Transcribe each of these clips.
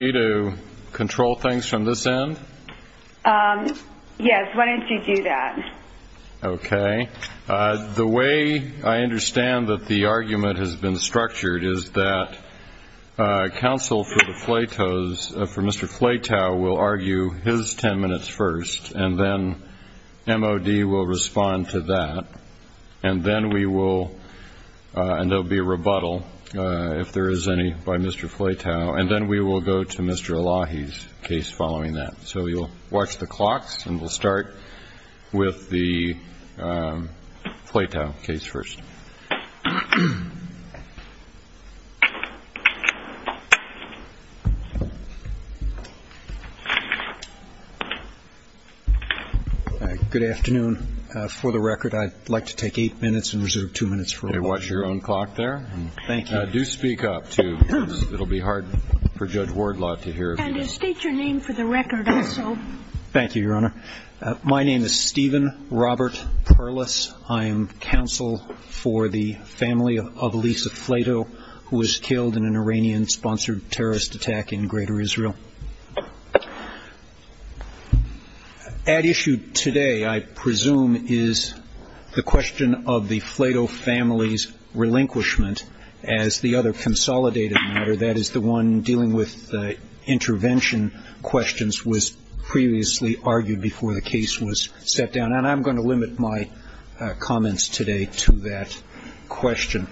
Do you want me to control things from this end? Yes, why don't you do that? Okay. The way I understand that the argument has been structured is that counsel for Mr. Flatow will argue his 10 minutes first, and then MOD will respond to that, and there will be a rebuttal if there is any by Mr. Flatow. And then we will go to Mr. Elahi's case following that. So you'll watch the clocks, and we'll start with the Flatow case first. Good afternoon. For the record, I'd like to take eight minutes and reserve two minutes for Elahi. Okay, watch your own clock there. Thank you. Do speak up, too, because it will be hard for Judge Wardlaw to hear you. And state your name for the record also. Thank you, Your Honor. My name is Stephen Robert Perlis. I am counsel for the family of Lisa Flatow, who was killed in an Iranian-sponsored terrorist attack in greater Israel. At issue today, I presume, is the question of the Flatow family's relinquishment as the other consolidated matter, that is, the one dealing with the intervention questions was previously argued before the case was set down. And I'm going to limit my comments today to that question.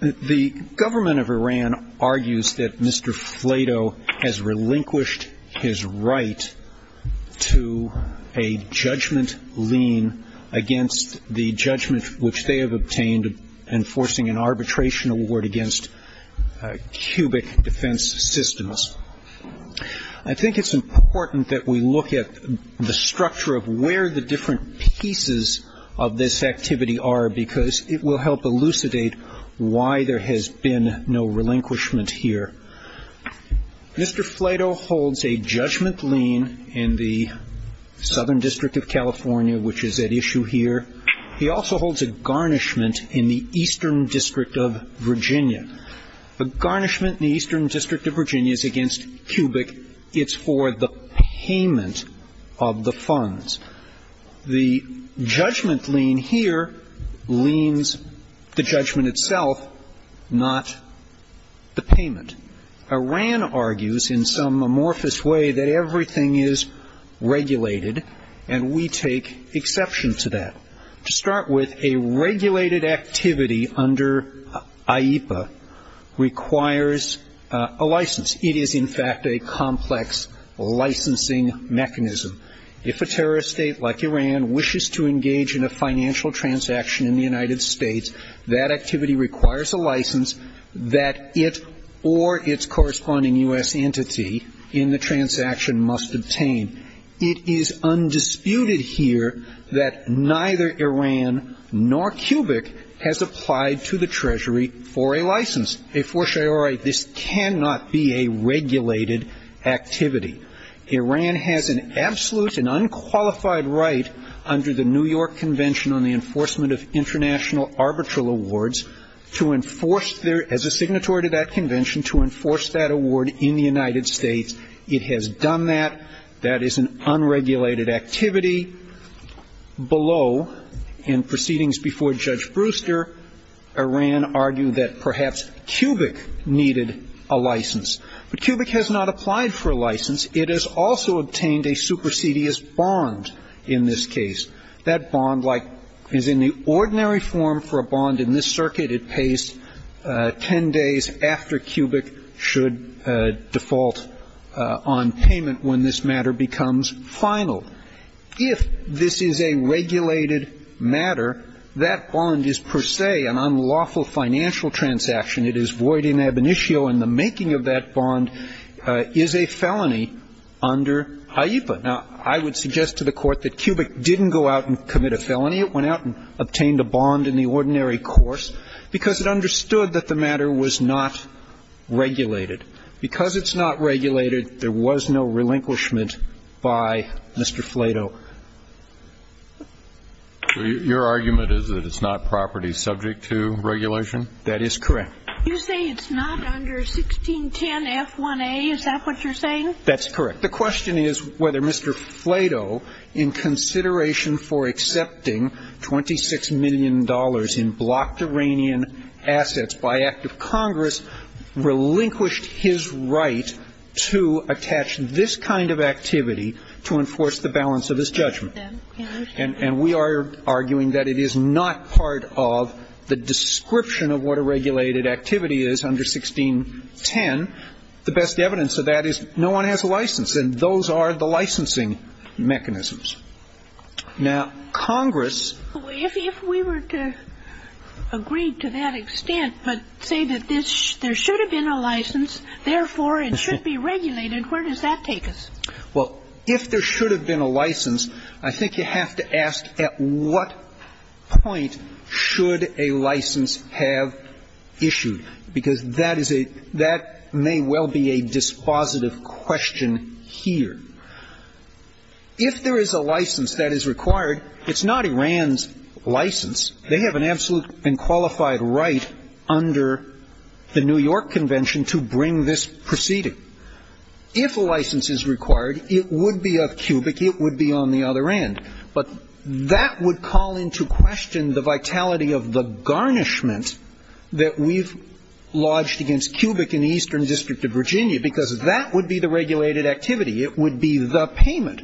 The government of Iran argues that Mr. Flatow has relinquished his right to a judgment lien against the judgment which they have obtained enforcing an arbitration award against cubic defense systems. I think it's important that we look at the structure of where the different pieces of this activity are because it will help elucidate why there has been no relinquishment here. Mr. Flatow holds a judgment lien in the Southern District of California, which is at issue here. He also holds a garnishment in the Eastern District of Virginia. The garnishment in the Eastern District of Virginia is against cubic. It's for the payment of the funds. The judgment lien here liens the judgment itself, not the payment. Iran argues in some amorphous way that everything is regulated, and we take exception to that. To start with, a regulated activity under IEPA requires a license. It is, in fact, a complex licensing mechanism. If a terrorist state like Iran wishes to engage in a financial transaction in the United States, that activity requires a license that it or its corresponding U.S. entity in the transaction must obtain. It is undisputed here that neither Iran nor cubic has applied to the Treasury for a license. They foreshadow this cannot be a regulated activity. Iran has an absolute and unqualified right under the New York Convention on the Enforcement of International Arbitral Awards to enforce their, as a signatory to that convention, to enforce that award in the United States. It has done that. That is an unregulated activity. Below, in proceedings before Judge Brewster, Iran argued that perhaps cubic needed a license. But cubic has not applied for a license. It has also obtained a supersedious bond in this case. That bond, like, is in the ordinary form for a bond in this circuit. It pays 10 days after cubic should default on payment when this matter becomes final. If this is a regulated matter, that bond is per se an unlawful financial transaction. It is void in ab initio, and the making of that bond is a felony under HIEPA. Now, I would suggest to the Court that cubic didn't go out and commit a felony. It went out and obtained a bond in the ordinary course because it understood that the matter was not regulated. Because it's not regulated, there was no relinquishment by Mr. Flato. So your argument is that it's not property subject to regulation? That is correct. You say it's not under 1610F1A. Is that what you're saying? That's correct. The question is whether Mr. Flato, in consideration for accepting $26 million in blocked Iranian assets by act of Congress, relinquished his right to attach this kind of activity to enforce the balance of his judgment. And we are arguing that it is not part of the description of what a regulated activity is under 1610. The best evidence of that is no one has a license, and those are the licensing mechanisms. Now, Congress ---- If we were to agree to that extent, but say that there should have been a license, therefore it should be regulated, where does that take us? Well, if there should have been a license, I think you have to ask at what point should a license have issued, because that is a — that may well be a dispositive question here. If there is a license that is required, it's not Iran's license. They have an absolute and qualified right under the New York Convention to bring this proceeding. If a license is required, it would be of Cubic. It would be on the other end. But that would call into question the vitality of the garnishment that we've lodged against Cubic in the Eastern District of Virginia, because that would be the regulated activity. It would be the payment.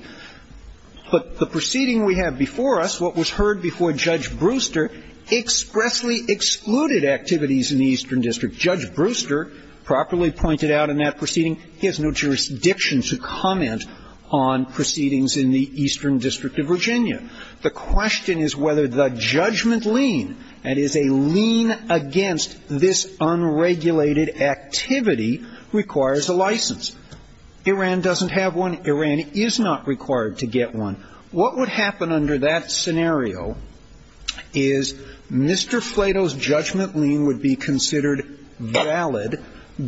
But the proceeding we have before us, what was heard before Judge Brewster, expressly excluded activities in the Eastern District. Judge Brewster properly pointed out in that proceeding he has no jurisdiction to comment on proceedings in the Eastern District of Virginia. The question is whether the judgment lien, that is, a lien against this unregulated activity, requires a license. Iran doesn't have one. Iran is not required to get one. What would happen under that scenario is Mr. Flato's judgment lien would be considered valid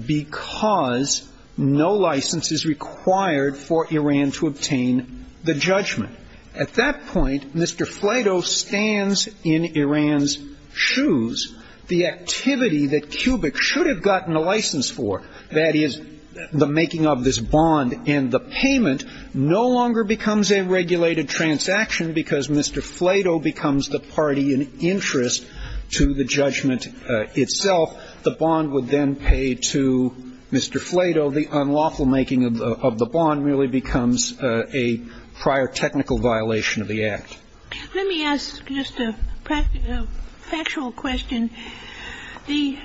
because no license is required for Iran to obtain the judgment. At that point, Mr. Flato stands in Iran's shoes. The activity that Cubic should have gotten a license for, that is, the making of this bond and the payment, no longer becomes a regulated transaction because Mr. Flato becomes the party in interest to the judgment itself. The bond would then pay to Mr. Flato. The unlawful making of the bond really becomes a prior technical violation of the Let me ask just a factual question. The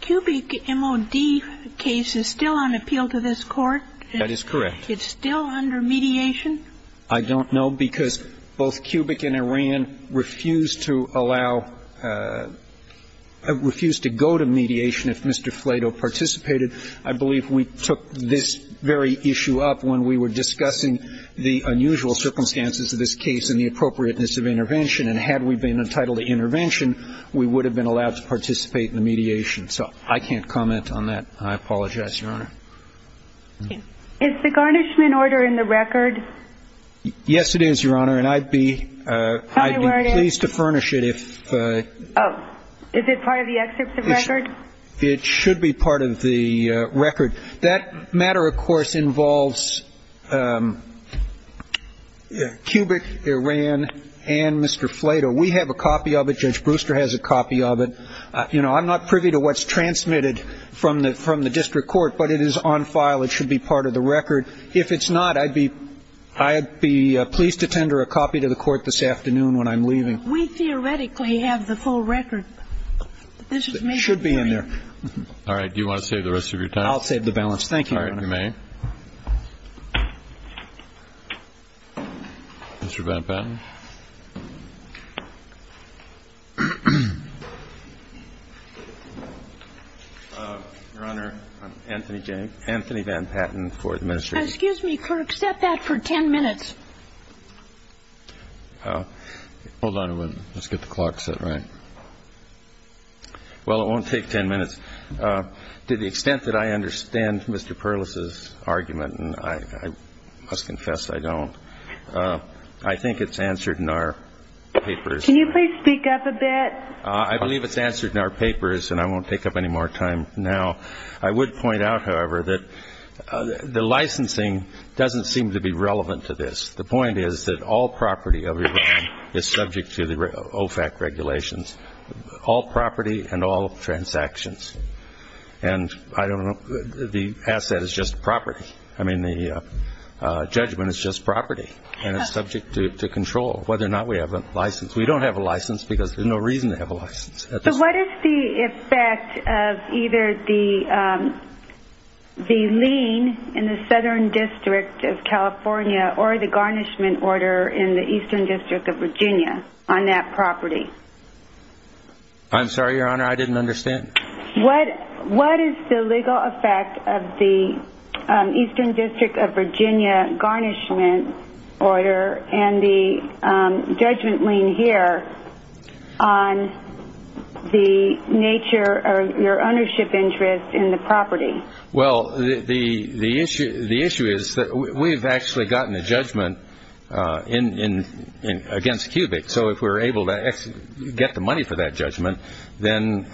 Cubic M.O.D. case is still on appeal to this Court? That is correct. It's still under mediation? I don't know, because both Cubic and Iran refused to allow or refused to go to mediation if Mr. Flato participated. I believe we took this very issue up when we were discussing the unusual circumstances of this case and the appropriateness of intervention. And had we been entitled to intervention, we would have been allowed to participate in the mediation. So I can't comment on that. I apologize, Your Honor. Is the garnishment order in the record? Yes, it is, Your Honor. And I'd be pleased to furnish it. Is it part of the excerpt of the record? It should be part of the record. That matter, of course, involves Cubic, Iran, and Mr. Flato. We have a copy of it. Judge Brewster has a copy of it. You know, I'm not privy to what's transmitted from the district court, but it is on file. It should be part of the record. If it's not, I'd be pleased to tender a copy to the Court this afternoon when I'm leaving. We theoretically have the full record. It should be in there. All right. Do you want to save the rest of your time? I'll save the balance. Thank you, Your Honor. All right. You may. Mr. Van Patten. Your Honor, I'm Anthony Van Patten for the Ministry of Justice. Excuse me, could we accept that for 10 minutes? Hold on a minute. Let's get the clock set right. Well, it won't take 10 minutes. To the extent that I understand Mr. Perlis's argument, and I must confess I don't, I think it's answered in our papers. Can you please speak up a bit? I believe it's answered in our papers, and I won't take up any more time now. I would point out, however, that the licensing doesn't seem to be relevant to this. The point is that all property of Iran is subject to the OFAC regulations, all property and all transactions. And I don't know, the asset is just property. I mean the judgment is just property, and it's subject to control whether or not we have a license. We don't have a license because there's no reason to have a license. So what is the effect of either the lien in the Southern District of California or the garnishment order in the Eastern District of Virginia on that property? I'm sorry, Your Honor, I didn't understand. What is the legal effect of the Eastern District of Virginia garnishment order and the judgment lien here on the nature of your ownership interest in the property? Well, the issue is that we've actually gotten a judgment against Cubic. So if we're able to get the money for that judgment, then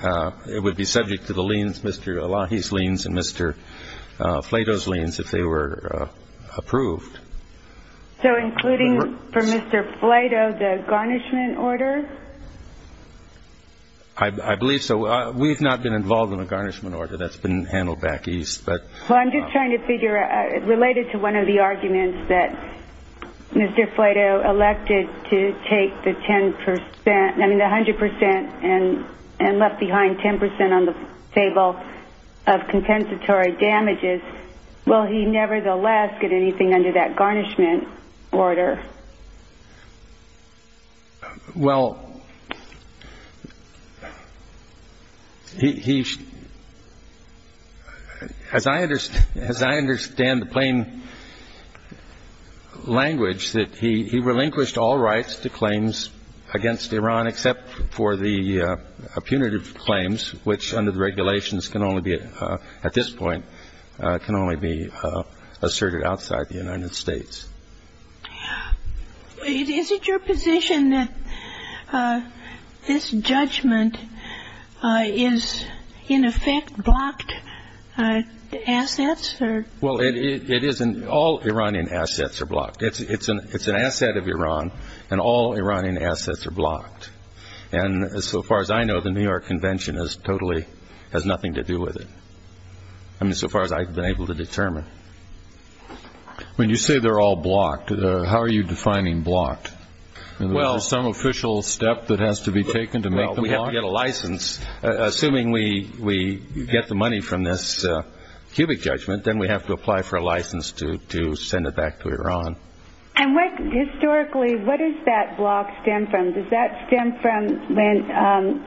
it would be subject to the liens, Mr. Elahi's liens and Mr. Plato's liens, if they were approved. So including for Mr. Plato the garnishment order? I believe so. We've not been involved in the garnishment order. That's been handled back east. Well, I'm just trying to figure, related to one of the arguments that Mr. Plato elected to take the 10 percent, I mean the 100 percent and left behind 10 percent on the table of compensatory damages, will he nevertheless get anything under that garnishment order? Well, as I understand the plain language, that he relinquished all rights to claims against Iran except for the punitive claims, which under the regulations can only be at this point can only be asserted outside the United States. Is it your position that this judgment is in effect blocked assets? Well, all Iranian assets are blocked. It's an asset of Iran and all Iranian assets are blocked. And so far as I know, the New York Convention totally has nothing to do with it, I mean so far as I've been able to determine. When you say they're all blocked, how are you defining blocked? Is there some official step that has to be taken to make them blocked? Well, we have to get a license. Assuming we get the money from this cubic judgment, then we have to apply for a license to send it back to Iran. And historically, what does that block stand for? Does that stem from when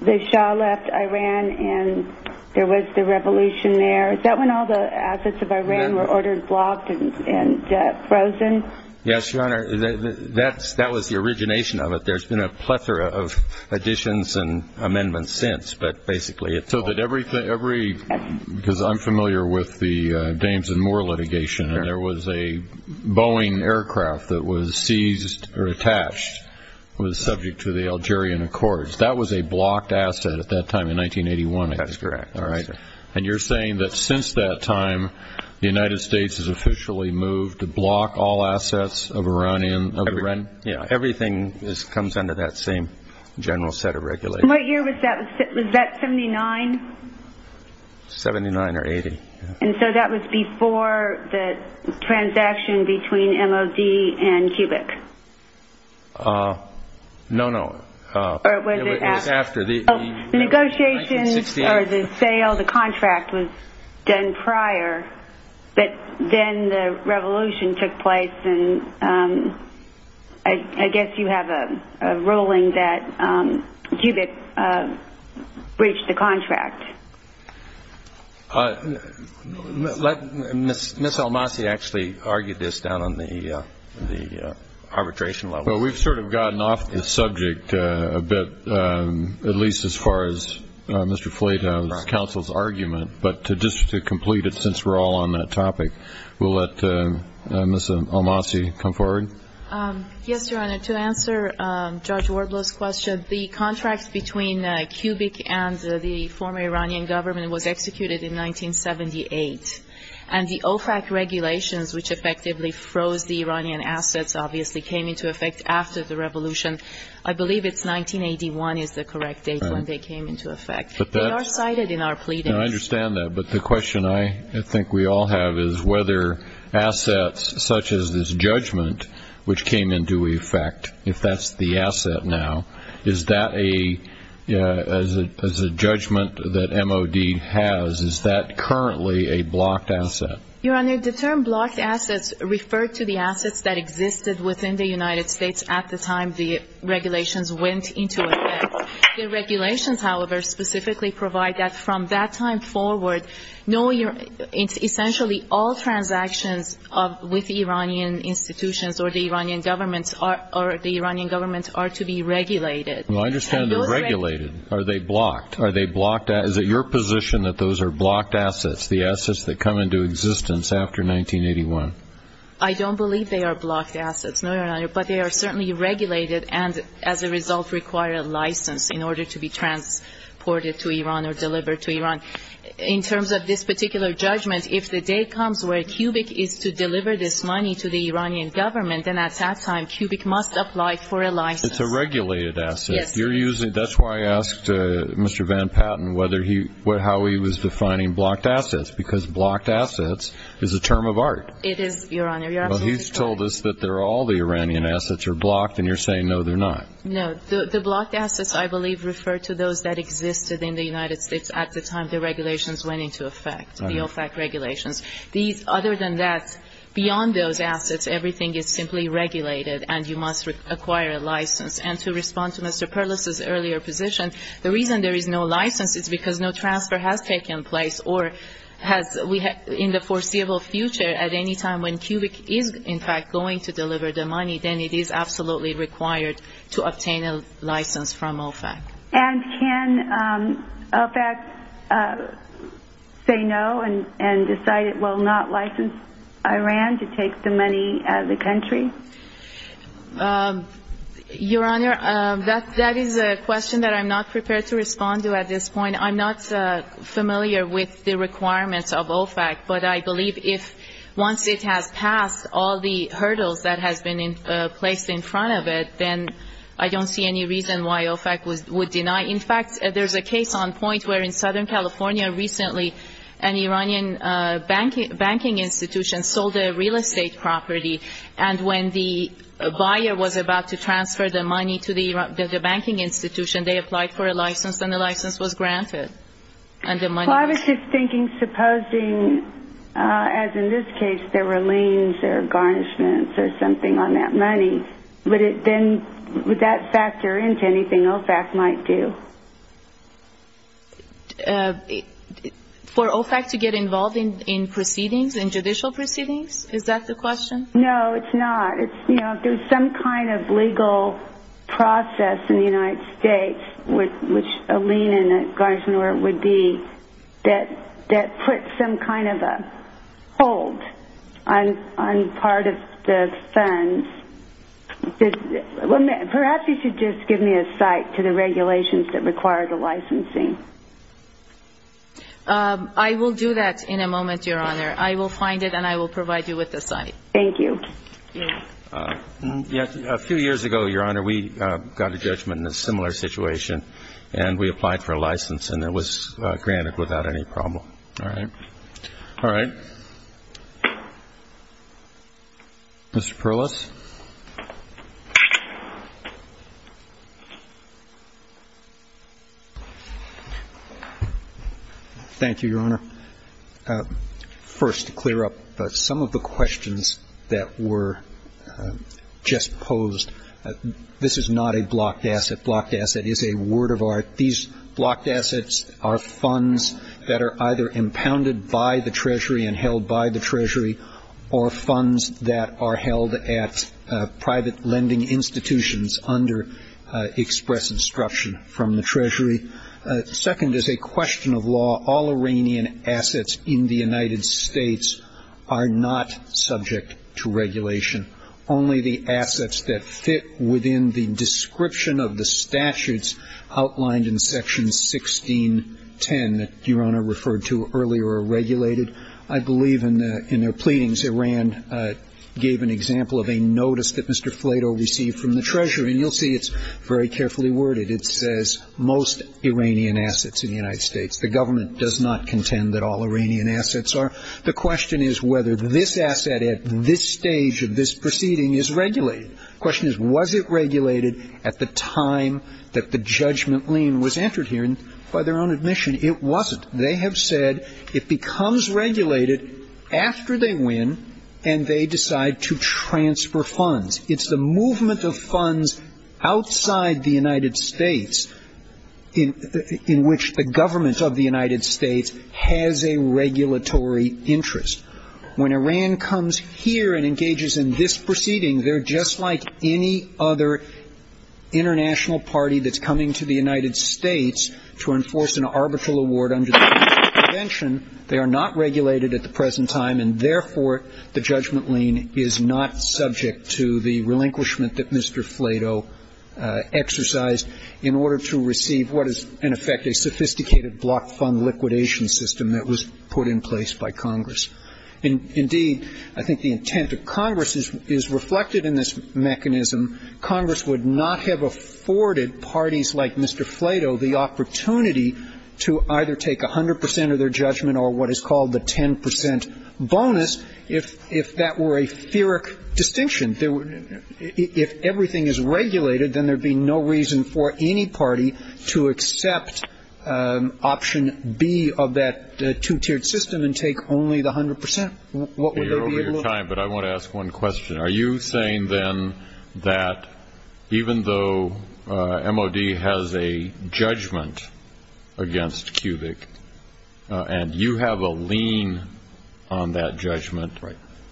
the Shah left Iran and there was the revolution there? Is that when all the assets of Iran were ordered blocked and frozen? Yes, Your Honor. That was the origination of it. There's been a plethora of additions and amendments since. Because I'm familiar with the Danes and Moore litigation, and there was a Boeing aircraft that was seized or attached, was subject to the Algerian Accords. That was a blocked asset at that time in 1981. That's correct. And you're saying that since that time, the United States has officially moved to block all assets of Iran? Yes, everything comes under that same general set of regulations. And what year was that? Was that 79? 79 or 80. And so that was before the transaction between MOD and cubic? No, no. It was after. The negotiations or the sale, the contract was done prior, but then the revolution took place. And I guess you have a ruling that cubic breached the contract. Ms. Almasi actually argued this down on the arbitration level. Well, we've sort of gotten off the subject a bit, at least as far as Mr. Fleta's counsel's argument. But just to complete it, since we're all on that topic, we'll let Ms. Almasi come forward. Yes, Your Honor, to answer Judge Wardlow's question, the contract between cubic and the former Iranian government was executed in 1978. And the OFAC regulations, which effectively froze the Iranian assets, obviously came into effect after the revolution. I believe it's 1981 is the correct date when they came into effect. They are cited in our pleadings. I understand that. But the question I think we all have is whether assets such as this judgment, which came into effect if that's the asset now, is that a judgment that MOD has? Is that currently a blocked asset? Your Honor, the term blocked assets referred to the assets that existed within the United States at the time the regulations went into effect. The regulations, however, specifically provide that from that time forward, essentially all transactions with the Iranian institutions or the Iranian government are to be regulated. Well, I understand they're regulated. Are they blocked? Is it your position that those are blocked assets, the assets that come into existence after 1981? Your Honor, but they are certainly regulated and as a result require a license in order to be transported to Iran or delivered to Iran. In terms of this particular judgment, if the day comes where cubic is to deliver this money to the Iranian government, then at that time cubic must apply for a license. It's a regulated asset. Yes. That's why I asked Mr. Van Patten how he was defining blocked assets, because blocked assets is a term of art. It is, Your Honor. Well, he's told us that all the Iranian assets are blocked and you're saying no, they're not. No. The blocked assets, I believe, refer to those that existed in the United States at the time the regulations went into effect, the OFAC regulations. Other than that, beyond those assets, everything is simply regulated and you must acquire a license. And to respond to Mr. Perlis's earlier position, the reason there is no license is because no transfer has taken place or in the foreseeable future at any time when cubic is, in fact, going to deliver the money, then it is absolutely required to obtain a license from OFAC. And can OFAC say no and decide it will not license Iran to take the money out of the country? Your Honor, that is a question that I'm not prepared to respond to at this point. I mean, I'm not familiar with the requirements of OFAC, but I believe if once it has passed all the hurdles that has been placed in front of it, then I don't see any reason why OFAC would deny. In fact, there's a case on point where in Southern California recently, an Iranian banking institution sold a real estate property, and when the buyer was about to transfer the money to the banking institution, they applied for a license, and the license was granted. I was just thinking, supposing, as in this case, there were liens or garnishments or something on that money, would that factor into anything OFAC might do? For OFAC to get involved in proceedings, in judicial proceedings, is that the question? No, it's not. There's some kind of legal process in the United States, which a lien and a garnishment would be, that puts some kind of a hold on part of the funds. Perhaps you should just give me a cite to the regulations that require the licensing. I will do that in a moment, Your Honor. I will find it, and I will provide you with the cite. Thank you. A few years ago, Your Honor, we got a judgment in a similar situation, and we applied for a license, and it was granted without any problem. All right. All right. Mr. Perlis. Thank you, Your Honor. First, to clear up some of the questions that were just posed, this is not a blocked asset. Blocked asset is a word of art. These blocked assets are funds that are either impounded by the Treasury and held by the Treasury or funds that are held at private lending institutions under express instruction from the Treasury. Second is a question of law. All Iranian assets in the United States are not subject to regulation. Only the assets that fit within the description of the statutes outlined in Section 1610, that Your Honor referred to earlier, are regulated. I believe in their pleadings, Iran gave an example of a notice that Mr. Flato received from the Treasury, and you'll see it's very carefully worded. It says most Iranian assets in the United States. The government does not contend that all Iranian assets are. The question is whether this asset at this stage of this proceeding is regulated. The question is was it regulated at the time that the judgment lien was entered here, and by their own admission, it wasn't. They have said it becomes regulated after they win, and they decide to transfer funds. It's the movement of funds outside the United States, in which the government of the United States has a regulatory interest. When Iran comes here and engages in this proceeding, they're just like any other international party that's coming to the United States to enforce an arbitral award under the present convention. They are not regulated at the present time, and therefore the judgment lien is not subject to the relinquishment that Mr. Flato exercised in order to receive what is, in effect, a sophisticated block fund liquidation system that was put in place by Congress. Indeed, I think the intent of Congress is reflected in this mechanism. Congress would not have afforded parties like Mr. Flato the opportunity to either take 100% of their judgment or what is called the 10% bonus if that were a theoric distinction. If everything is regulated, then there would be no reason for any party to accept option B of that two-tiered system and take only the 100%. What would they be able to do? You're over your time, but I want to ask one question. Are you saying, then, that even though MOD has a judgment against Cubic and you have a lien on that judgment,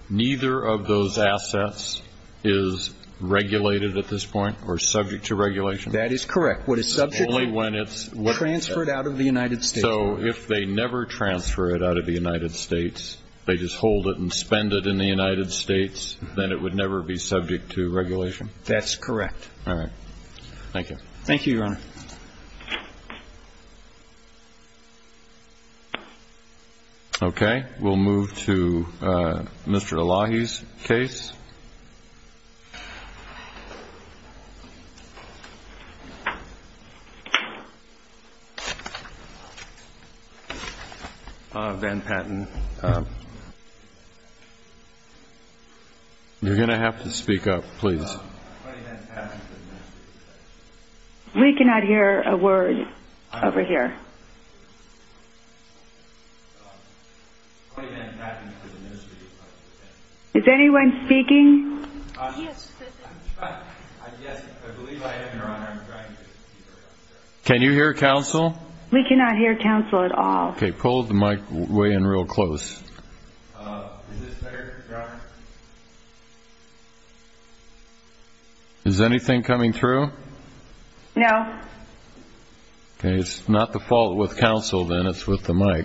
neither of those assets is regulated at this point or subject to regulation? That is correct. What is subject to is transferred out of the United States. So if they never transfer it out of the United States, they just hold it and spend it in the United States, then it would never be subject to regulation? That's correct. All right. Thank you. Thank you, Your Honor. Okay. We'll move to Mr. Elahi's case. Ben Patton. You're going to have to speak up, please. We cannot hear a word over here. Ben Patton for the Ministry of Public Defense. Is anyone speaking? Yes. Yes, I believe I am, Your Honor. Can you hear counsel? We cannot hear counsel at all. Okay. Pull the mic way in real close. Is this better, Your Honor? Is anything coming through? No. Okay. It's not the fault with counsel, then. It's with the mic.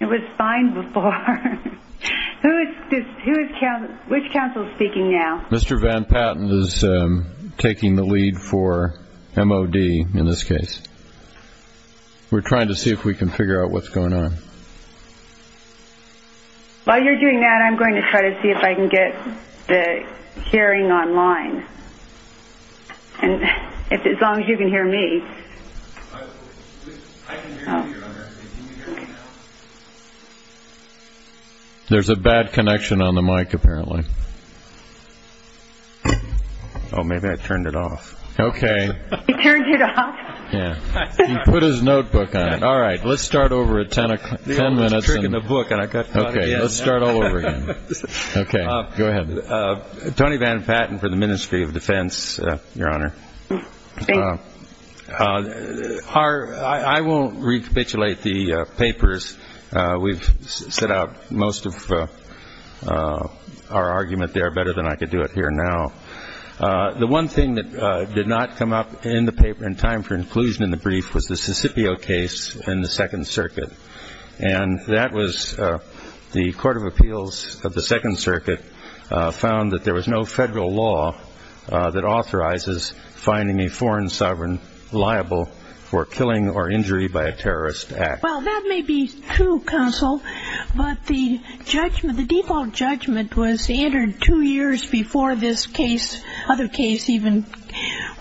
It was fine before. Who is counsel? Which counsel is speaking now? Mr. Ben Patton is taking the lead for MOD in this case. We're trying to see if we can figure out what's going on. While you're doing that, I'm going to try to see if I can get the hearing online. And as long as you can hear me. I can hear you, Your Honor. Can you hear me now? There's a bad connection on the mic, apparently. Oh, maybe I turned it off. Okay. Yeah. He put his notebook on. All right. Let's start over at ten minutes. The old trick in the book, and I got caught again. Okay. Let's start all over again. Okay. Go ahead. Tony Van Patten for the Ministry of Defense, Your Honor. I won't recapitulate the papers. We've set out most of our argument there better than I could do it here now. The one thing that did not come up in the paper in time for inclusion in the brief was the Sicipio case in the Second Circuit. And that was the Court of Appeals of the Second Circuit found that there was no federal law that authorizes finding a foreign sovereign liable for killing or injury by a terrorist act. Well, that may be true, Counsel. But the judgment, the default judgment was entered two years before this case, other case even,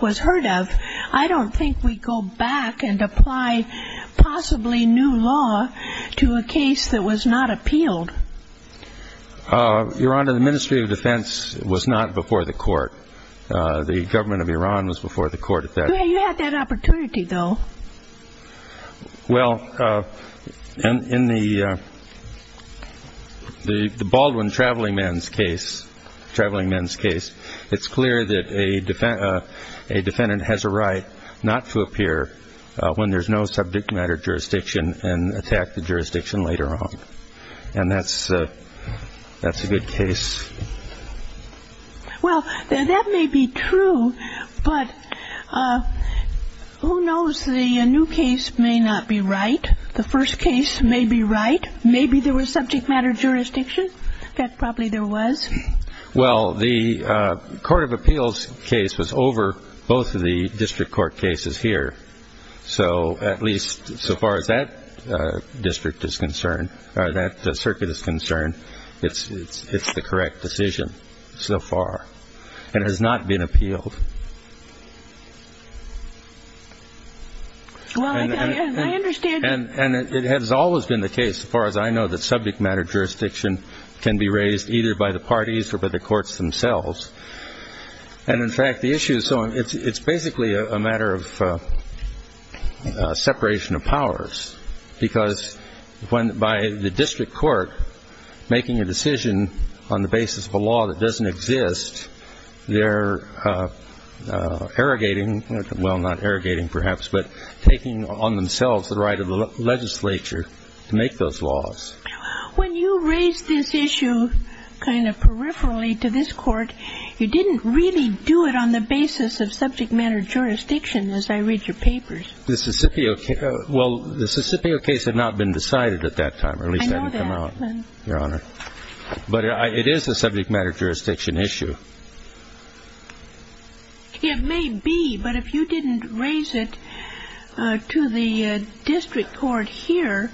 was heard of. I don't think we go back and apply possibly new law to a case that was not appealed. Your Honor, the Ministry of Defense was not before the court. The government of Iran was before the court at that time. You had that opportunity, though. Well, in the Baldwin traveling man's case, it's clear that a defendant has a right not to appear when there's no subject matter jurisdiction and attack the jurisdiction later on. And that's a good case. Well, that may be true, but who knows? The new case may not be right. The first case may be right. Maybe there was subject matter jurisdiction. That probably there was. Well, the Court of Appeals case was over both of the district court cases here. So at least so far as that district is concerned, or that circuit is concerned, it's the correct decision so far. It has not been appealed. Well, I understand. And it has always been the case, as far as I know, that subject matter jurisdiction can be raised either by the parties or by the courts themselves. And, in fact, the issue is so it's basically a matter of separation of powers because by the district court making a decision on the basis of a law that doesn't exist, they're arrogating, well, not arrogating perhaps, but taking on themselves the right of the legislature to make those laws. Well, when you raised this issue kind of peripherally to this court, you didn't really do it on the basis of subject matter jurisdiction as I read your papers. The Sicipio case, well, the Sicipio case had not been decided at that time. At least it hadn't come out, Your Honor. But it is a subject matter jurisdiction issue. It may be, but if you didn't raise it to the district court here,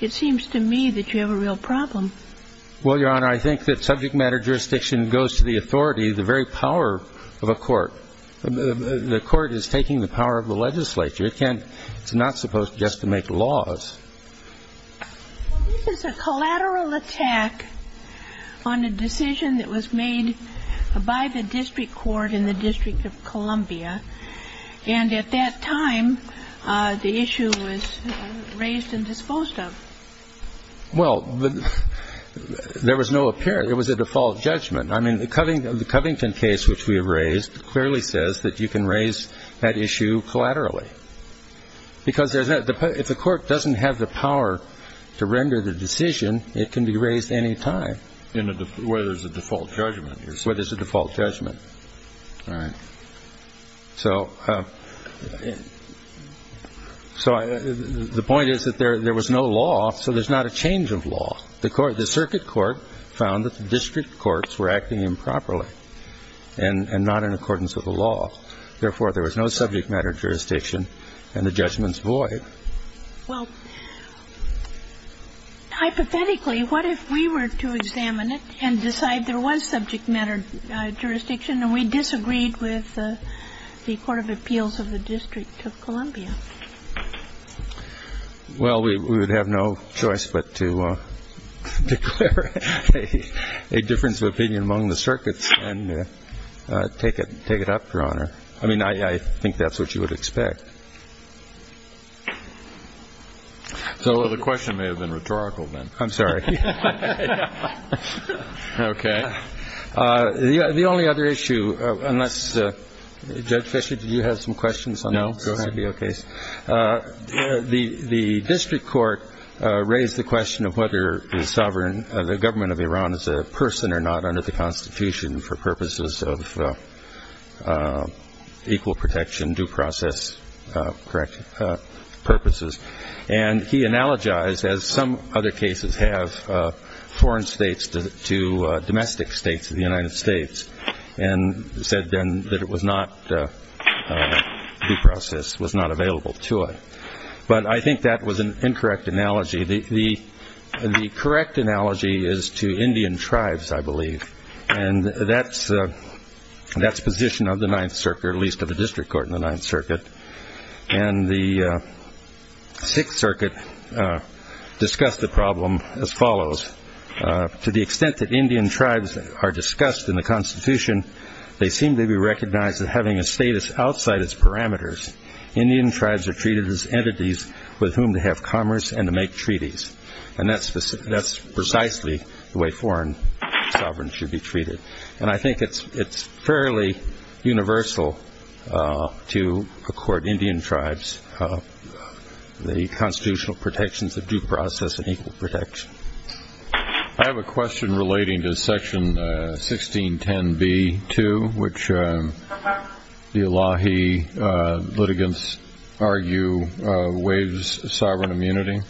it seems to me that you have a real problem. Well, Your Honor, I think that subject matter jurisdiction goes to the authority, the very power of a court. The court is taking the power of the legislature. It's not supposed just to make laws. Well, this is a collateral attack on a decision that was made by the district court in the District of Columbia. And at that time, the issue was raised and disposed of. Well, there was no apparent, it was a default judgment. I mean, the Covington case which we raised clearly says that you can raise that issue collaterally. Because if the court doesn't have the power to render the decision, it can be raised any time. Where there's a default judgment. Where there's a default judgment. All right. So the point is that there was no law, so there's not a change of law. The circuit court found that the district courts were acting improperly and not in accordance with the law. Therefore, there was no subject matter jurisdiction, and the judgment's void. Well, hypothetically, what if we were to examine it and decide there was subject matter jurisdiction and we disagreed with the Court of Appeals of the District of Columbia? Well, we would have no choice but to declare a difference of opinion among the circuits and take it up, Your Honor. I mean, I think that's what you would expect. So the question may have been rhetorical then. I'm sorry. Okay. The only other issue, unless Judge Fischer, did you have some questions on the CBO case? No, go ahead. The district court raised the question of whether the government of Iran is a person or not under the Constitution for purposes of equal protection, due process purposes. And he analogized, as some other cases have, foreign states to domestic states of the United States and said then that due process was not available to it. But I think that was an incorrect analogy. The correct analogy is to Indian tribes, I believe, and that's the position of the Ninth Circuit, or at least of the district court in the Ninth Circuit. And the Sixth Circuit discussed the problem as follows. To the extent that Indian tribes are discussed in the Constitution, they seem to be recognized as having a status outside its parameters. Indian tribes are treated as entities with whom to have commerce and to make treaties. And that's precisely the way foreign sovereigns should be treated. And I think it's fairly universal to accord Indian tribes the constitutional protections of due process and equal protection. I have a question relating to Section 1610b-2, which the Allahi litigants argue waives sovereign immunity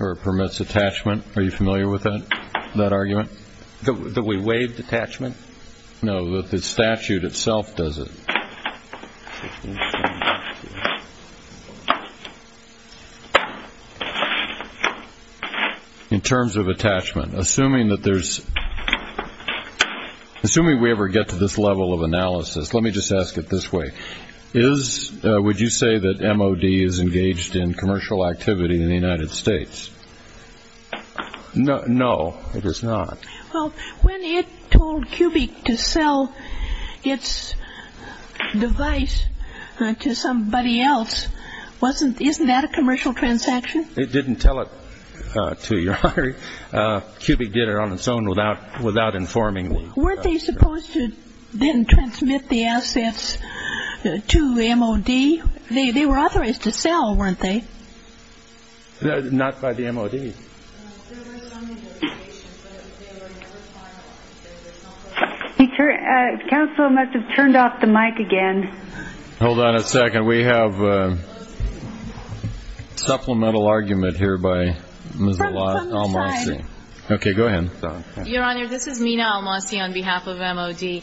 or permits attachment. Are you familiar with that argument? That we waive detachment? No, the statute itself does it. In terms of attachment, assuming we ever get to this level of analysis, let me just ask it this way. Would you say that MOD is engaged in commercial activity in the United States? No, it is not. Well, when it told Cubic to sell its device to somebody else, isn't that a commercial transaction? It didn't tell it to your hiring. Cubic did it on its own without informing. Weren't they supposed to then transmit the assets to MOD? They were authorized to sell, weren't they? Not by the MOD. Counsel must have turned off the mic again. Hold on a second. We have a supplemental argument here by Ms. Almasy. Okay, go ahead. Your Honor, this is Mina Almasy on behalf of MOD.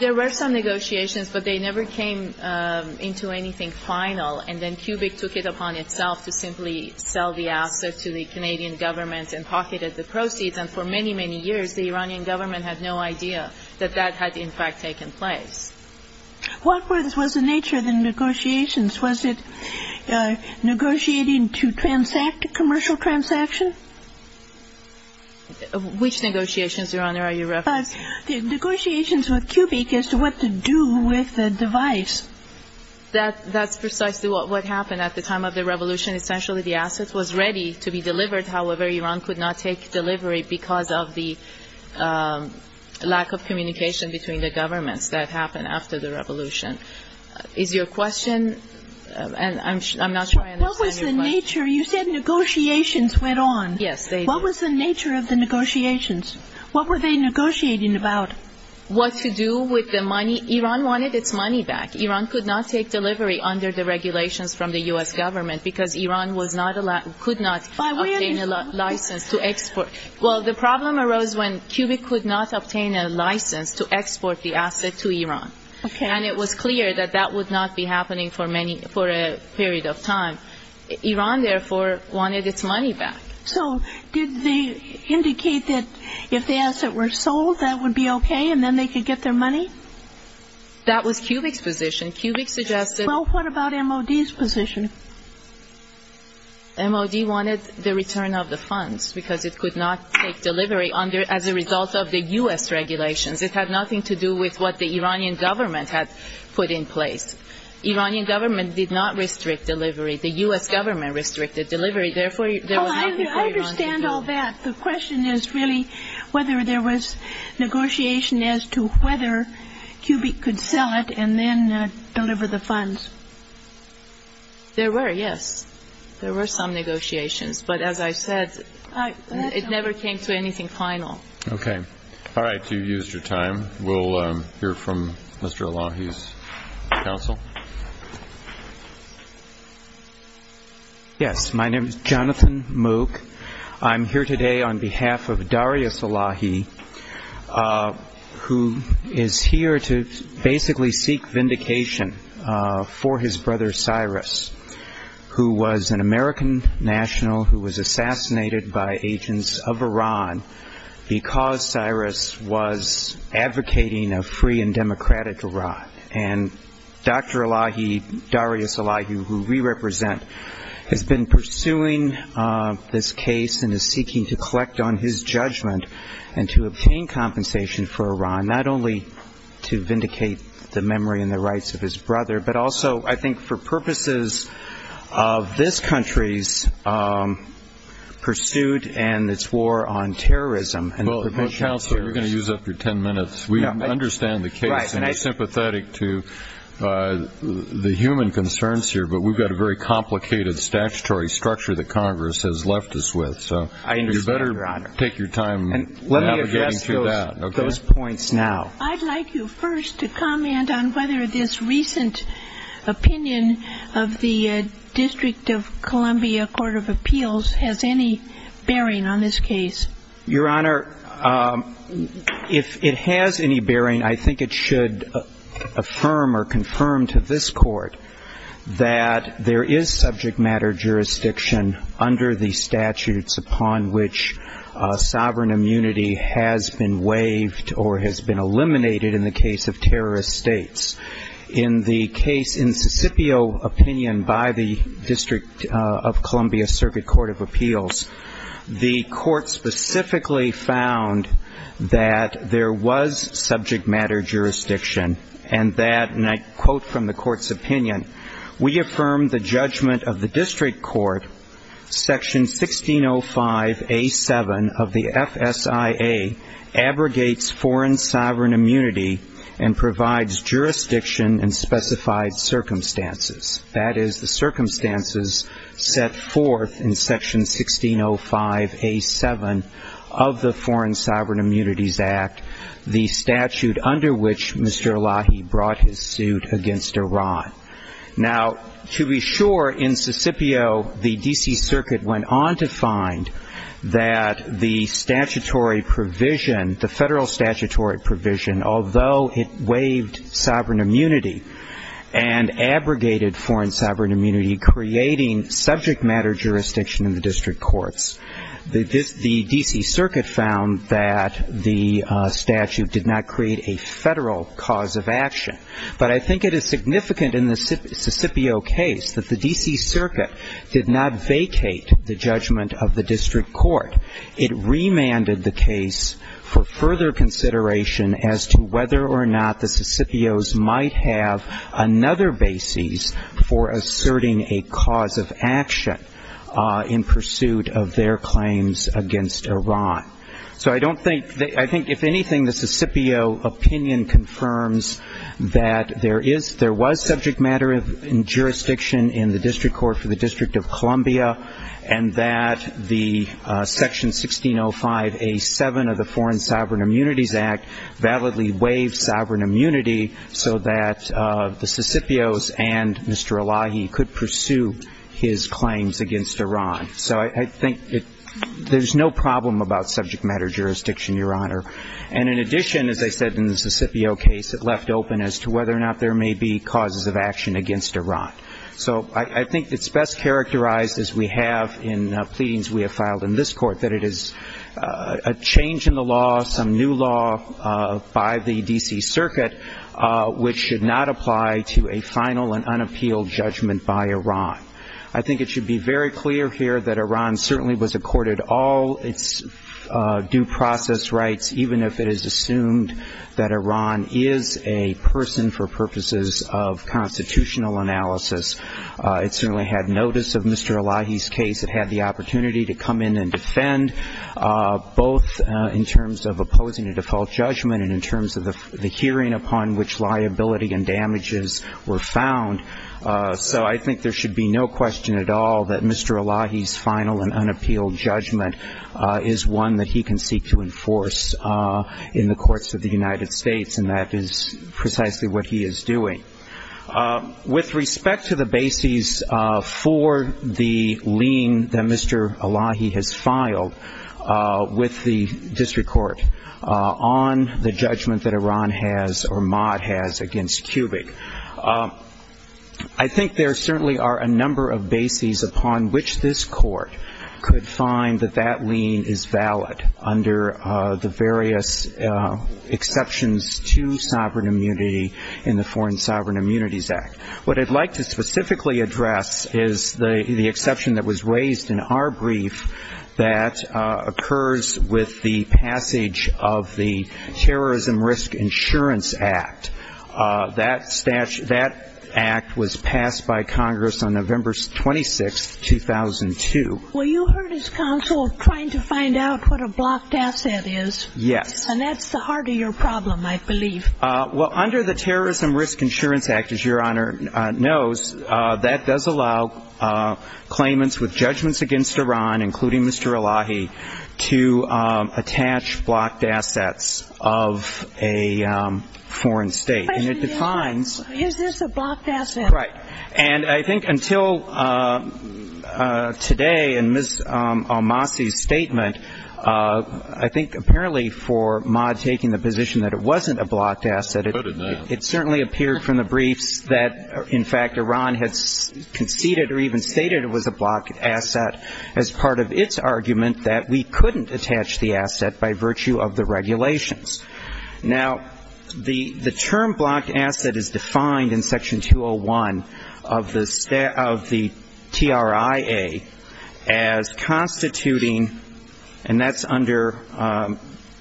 There were some negotiations, but they never came into anything final. And then Cubic took it upon itself to simply sell the asset to the Canadian government and pocketed the proceeds. And for many, many years, the Iranian government had no idea that that had, in fact, taken place. What was the nature of the negotiations? Was it negotiating to transact a commercial transaction? Which negotiations, Your Honor, are you referring to? Negotiations with Cubic as to what to do with the device. That's precisely what happened at the time of the revolution. Essentially, the asset was ready to be delivered. However, Iran could not take delivery because of the lack of communication between the governments that happened after the revolution. Is your question? I'm not sure I understand your question. What was the nature? You said negotiations went on. Yes, they did. What was the nature of the negotiations? What were they negotiating about? What to do with the money. Iran wanted its money back. Iran could not take delivery under the regulations from the U.S. government because Iran was not allowed, could not obtain a license to export. Well, the problem arose when Cubic could not obtain a license to export the asset to Iran. Okay. And it was clear that that would not be happening for many, for a period of time. Iran, therefore, wanted its money back. So did they indicate that if the asset were sold, that would be okay and then they could get their money? That was Cubic's position. Cubic suggested – Well, what about MOD's position? MOD wanted the return of the funds because it could not take delivery as a result of the U.S. regulations. It had nothing to do with what the Iranian government had put in place. The Iranian government did not restrict delivery. The U.S. government restricted delivery. Therefore, there was nothing for Iran to do. I understand all that. The question is really whether there was negotiation as to whether Cubic could sell it and then deliver the funds. There were, yes. There were some negotiations. But as I said, it never came to anything final. Okay. All right. You used your time. We'll hear from Mr. Elahi's counsel. Yes, my name is Jonathan Mook. I'm here today on behalf of Darius Elahi, who is here to basically seek vindication for his brother Cyrus, who was an American national who was assassinated by agents of Iran because Cyrus was advocating a free and democratic Iran. And Dr. Elahi, Darius Elahi, who we represent, has been pursuing this case and is seeking to collect on his judgment and to obtain compensation for Iran, not only to vindicate the memory and the rights of his brother, but also I think for purposes of this country's pursuit and its war on terrorism. Well, counsel, you're going to use that for ten minutes. We understand the case and are sympathetic to the human concerns here, but we've got a very complicated statutory structure that Congress has left us with. So you better take your time navigating through that. Let me address those points now. I'd like you first to comment on whether this recent opinion of the District of Columbia Court of Appeals has any bearing on this case. Your Honor, if it has any bearing, I think it should affirm or confirm to this Court that there is subject matter jurisdiction under the statutes upon which sovereign immunity has been waived or has been eliminated in the case of terrorist states. In the case in Sicipio opinion by the District of Columbia Circuit Court of Appeals, the Court specifically found that there was subject matter jurisdiction and that, and I quote from the Court's opinion, we affirm the judgment of the District Court, Section 1605A7 of the FSIA, abrogates foreign sovereign immunity and provides jurisdiction in specified circumstances. That is, the circumstances set forth in Section 1605A7 of the Foreign Sovereign Immunities Act, the statute under which Mr. Elahi brought his suit against Iran. Now, to be sure, in Sicipio, the D.C. Circuit went on to find that the statutory provision, the federal statutory provision, although it waived sovereign immunity and abrogated foreign sovereign immunity, creating subject matter jurisdiction in the District Courts, the D.C. Circuit found that the statute did not create a federal cause of action. But I think it is significant in the Sicipio case that the D.C. Circuit did not vacate the judgment of the District Court. It remanded the case for further consideration as to whether or not the Sicipios might have another basis for asserting a cause of action in pursuit of their claims against Iran. So I don't think, I think if anything, the Sicipio opinion confirms that there is, there was subject matter jurisdiction in the District Court for the District of Columbia and that the Section 1605A7 of the Foreign Sovereign Immunities Act validly waived sovereign immunity so that the Sicipios and Mr. Elahi could pursue his claims against Iran. So I think there's no problem about subject matter jurisdiction, Your Honor. And in addition, as I said in the Sicipio case, it left open as to whether or not there may be causes of action against Iran. So I think it's best characterized, as we have in pleadings we have filed in this court, that it is a change in the law, some new law by the D.C. Circuit, which should not apply to a final and unappealed judgment by Iran. I think it should be very clear here that Iran certainly was accorded all its due process rights, even if it is assumed that Iran is a person for purposes of constitutional analysis. It certainly had notice of Mr. Elahi's case. It had the opportunity to come in and defend, both in terms of opposing a default judgment and in terms of the hearing upon which liability and damages were found. So I think there should be no question at all that Mr. Elahi's final and unappealed judgment is one that he can seek to enforce in the courts of the United States, and that is precisely what he is doing. With respect to the bases for the lien that Mr. Elahi has filed with the district court on the judgment that Iran has or Mott has against Kubick, I think there certainly are a number of bases upon which this court could find that that lien is valid under the various exceptions to sovereign immunity in the Foreign Sovereign Immunities Act. What I'd like to specifically address is the exception that was raised in our brief that occurs with the passage of the Terrorism Risk Insurance Act. That act was passed by Congress on November 26, 2002. Well, you heard his counsel trying to find out what a blocked asset is. Yes. And that's the heart of your problem, I believe. Well, under the Terrorism Risk Insurance Act, as Your Honor knows, that does allow claimants with judgments against Iran, including Mr. Elahi, to attach blocked assets of a foreign state. But is this a blocked asset? Right. And I think until today in Ms. Almasi's statement, I think apparently for Mott taking the position that it wasn't a blocked asset, it certainly appeared from the briefs that, in fact, Iran has conceded or even stated it was a blocked asset as part of its argument that we couldn't attach the asset by virtue of the regulations. Now, the term blocked asset is defined in Section 201 of the TRIA as constituting and that's under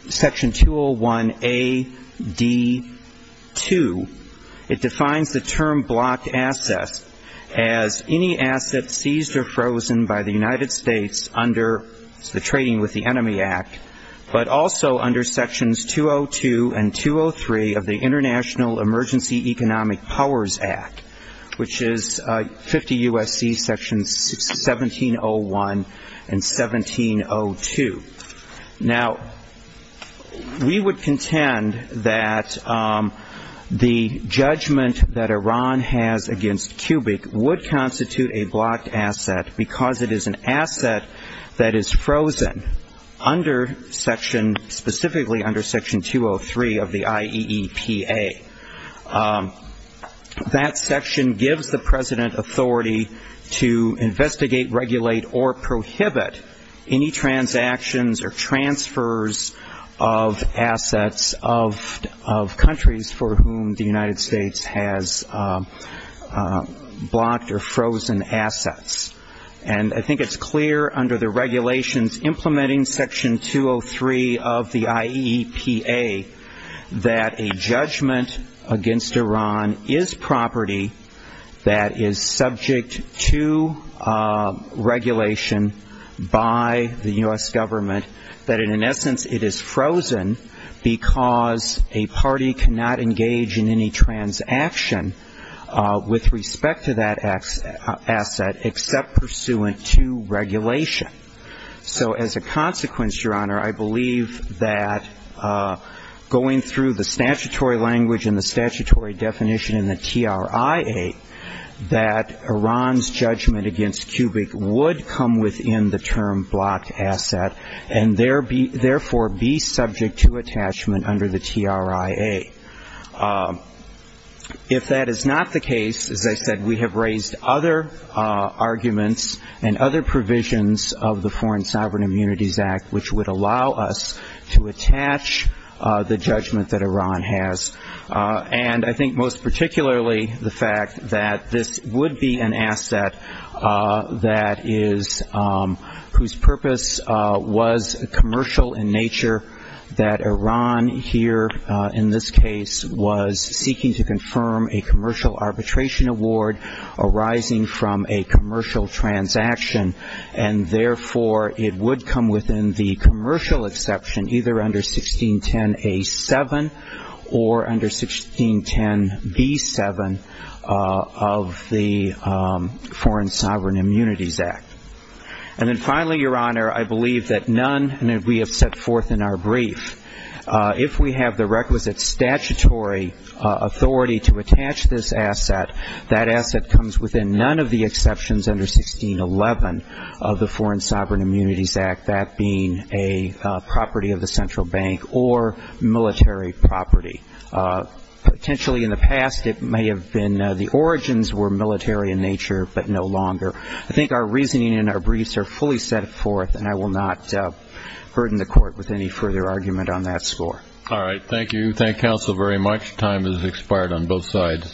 Section 201A-D-2. It defines the term blocked asset as any asset seized or frozen by the United States under the Trading with the Enemy Act, but also under Sections 202 and 203 of the International Emergency Economic Powers Act, which is 50 U.S.C. Sections 1701 and 1702. Now, we would contend that the judgment that Iran has against Cubic would constitute a blocked asset because it is an asset that is frozen under Section, specifically under Section 203 of the IEEPA. That section gives the President authority to investigate, regulate, or prohibit any transactions or transfers of assets of countries for whom the United States has blocked or frozen assets. And I think it's clear under the regulations implementing Section 203 of the IEEPA that a judgment against Iran is property that is subject to regulation by the U.S. government, that in essence it is frozen because a party cannot engage in any transaction with respect to that asset except pursuant to regulation. So as a consequence, Your Honor, I believe that going through the statutory language and the statutory definition in the TRIA that Iran's judgment against Cubic would come within the term blocked asset and therefore be subject to attachment under the TRIA. If that is not the case, as I said, we have raised other arguments and other provisions of the Foreign Sovereign Immunities Act, which would allow us to attach the judgment that Iran has. And I think most particularly the fact that this would be an asset whose purpose was commercial in nature, that Iran here in this case was seeking to confirm a commercial arbitration award arising from a commercial transaction, and therefore it would come within the commercial exception either under 1610A-7 or under 1610B-7 of the Foreign Sovereign Immunities Act. And then finally, Your Honor, I believe that none, and we have set forth in our brief, if we have the requisite statutory authority to attach this asset, that asset comes within none of the exceptions under 1611 of the Foreign Sovereign Immunities Act, that being a property of the central bank or military property. Potentially in the past it may have been the origins were military in nature but no longer. I think our reasoning and our briefs are fully set forth, and I will not burden the Court with any further argument on that score. All right, thank you. Thank counsel very much. Time has expired on both sides.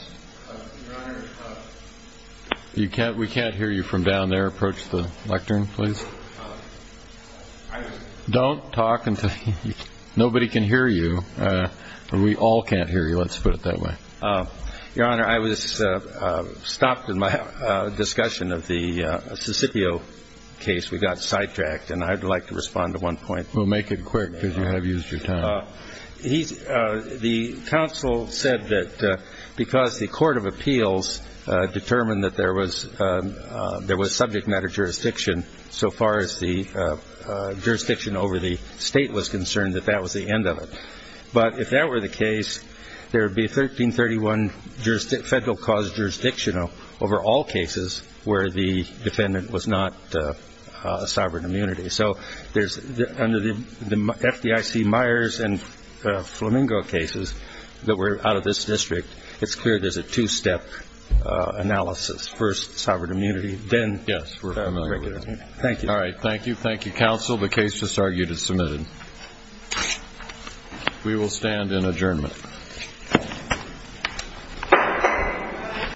We can't hear you from down there. Approach the lectern, please. Don't talk until nobody can hear you. We all can't hear you, let's put it that way. Your Honor, I was stopped in my discussion of the Sicipio case. We got sidetracked, and I'd like to respond to one point. We'll make it quick because you have used your time. The counsel said that because the Court of Appeals determined that there was subject matter jurisdiction so far as the jurisdiction over the state was concerned, that that was the end of it. But if that were the case, there would be a 1331 federal cause jurisdiction over all cases where the defendant was not a sovereign immunity. So under the FDIC Myers and Flamingo cases that were out of this district, it's clear there's a two-step analysis. First, sovereign immunity. Yes, we're familiar with that. Thank you. All right, thank you. Thank you, counsel. The case just argued is submitted. We will stand in adjournment.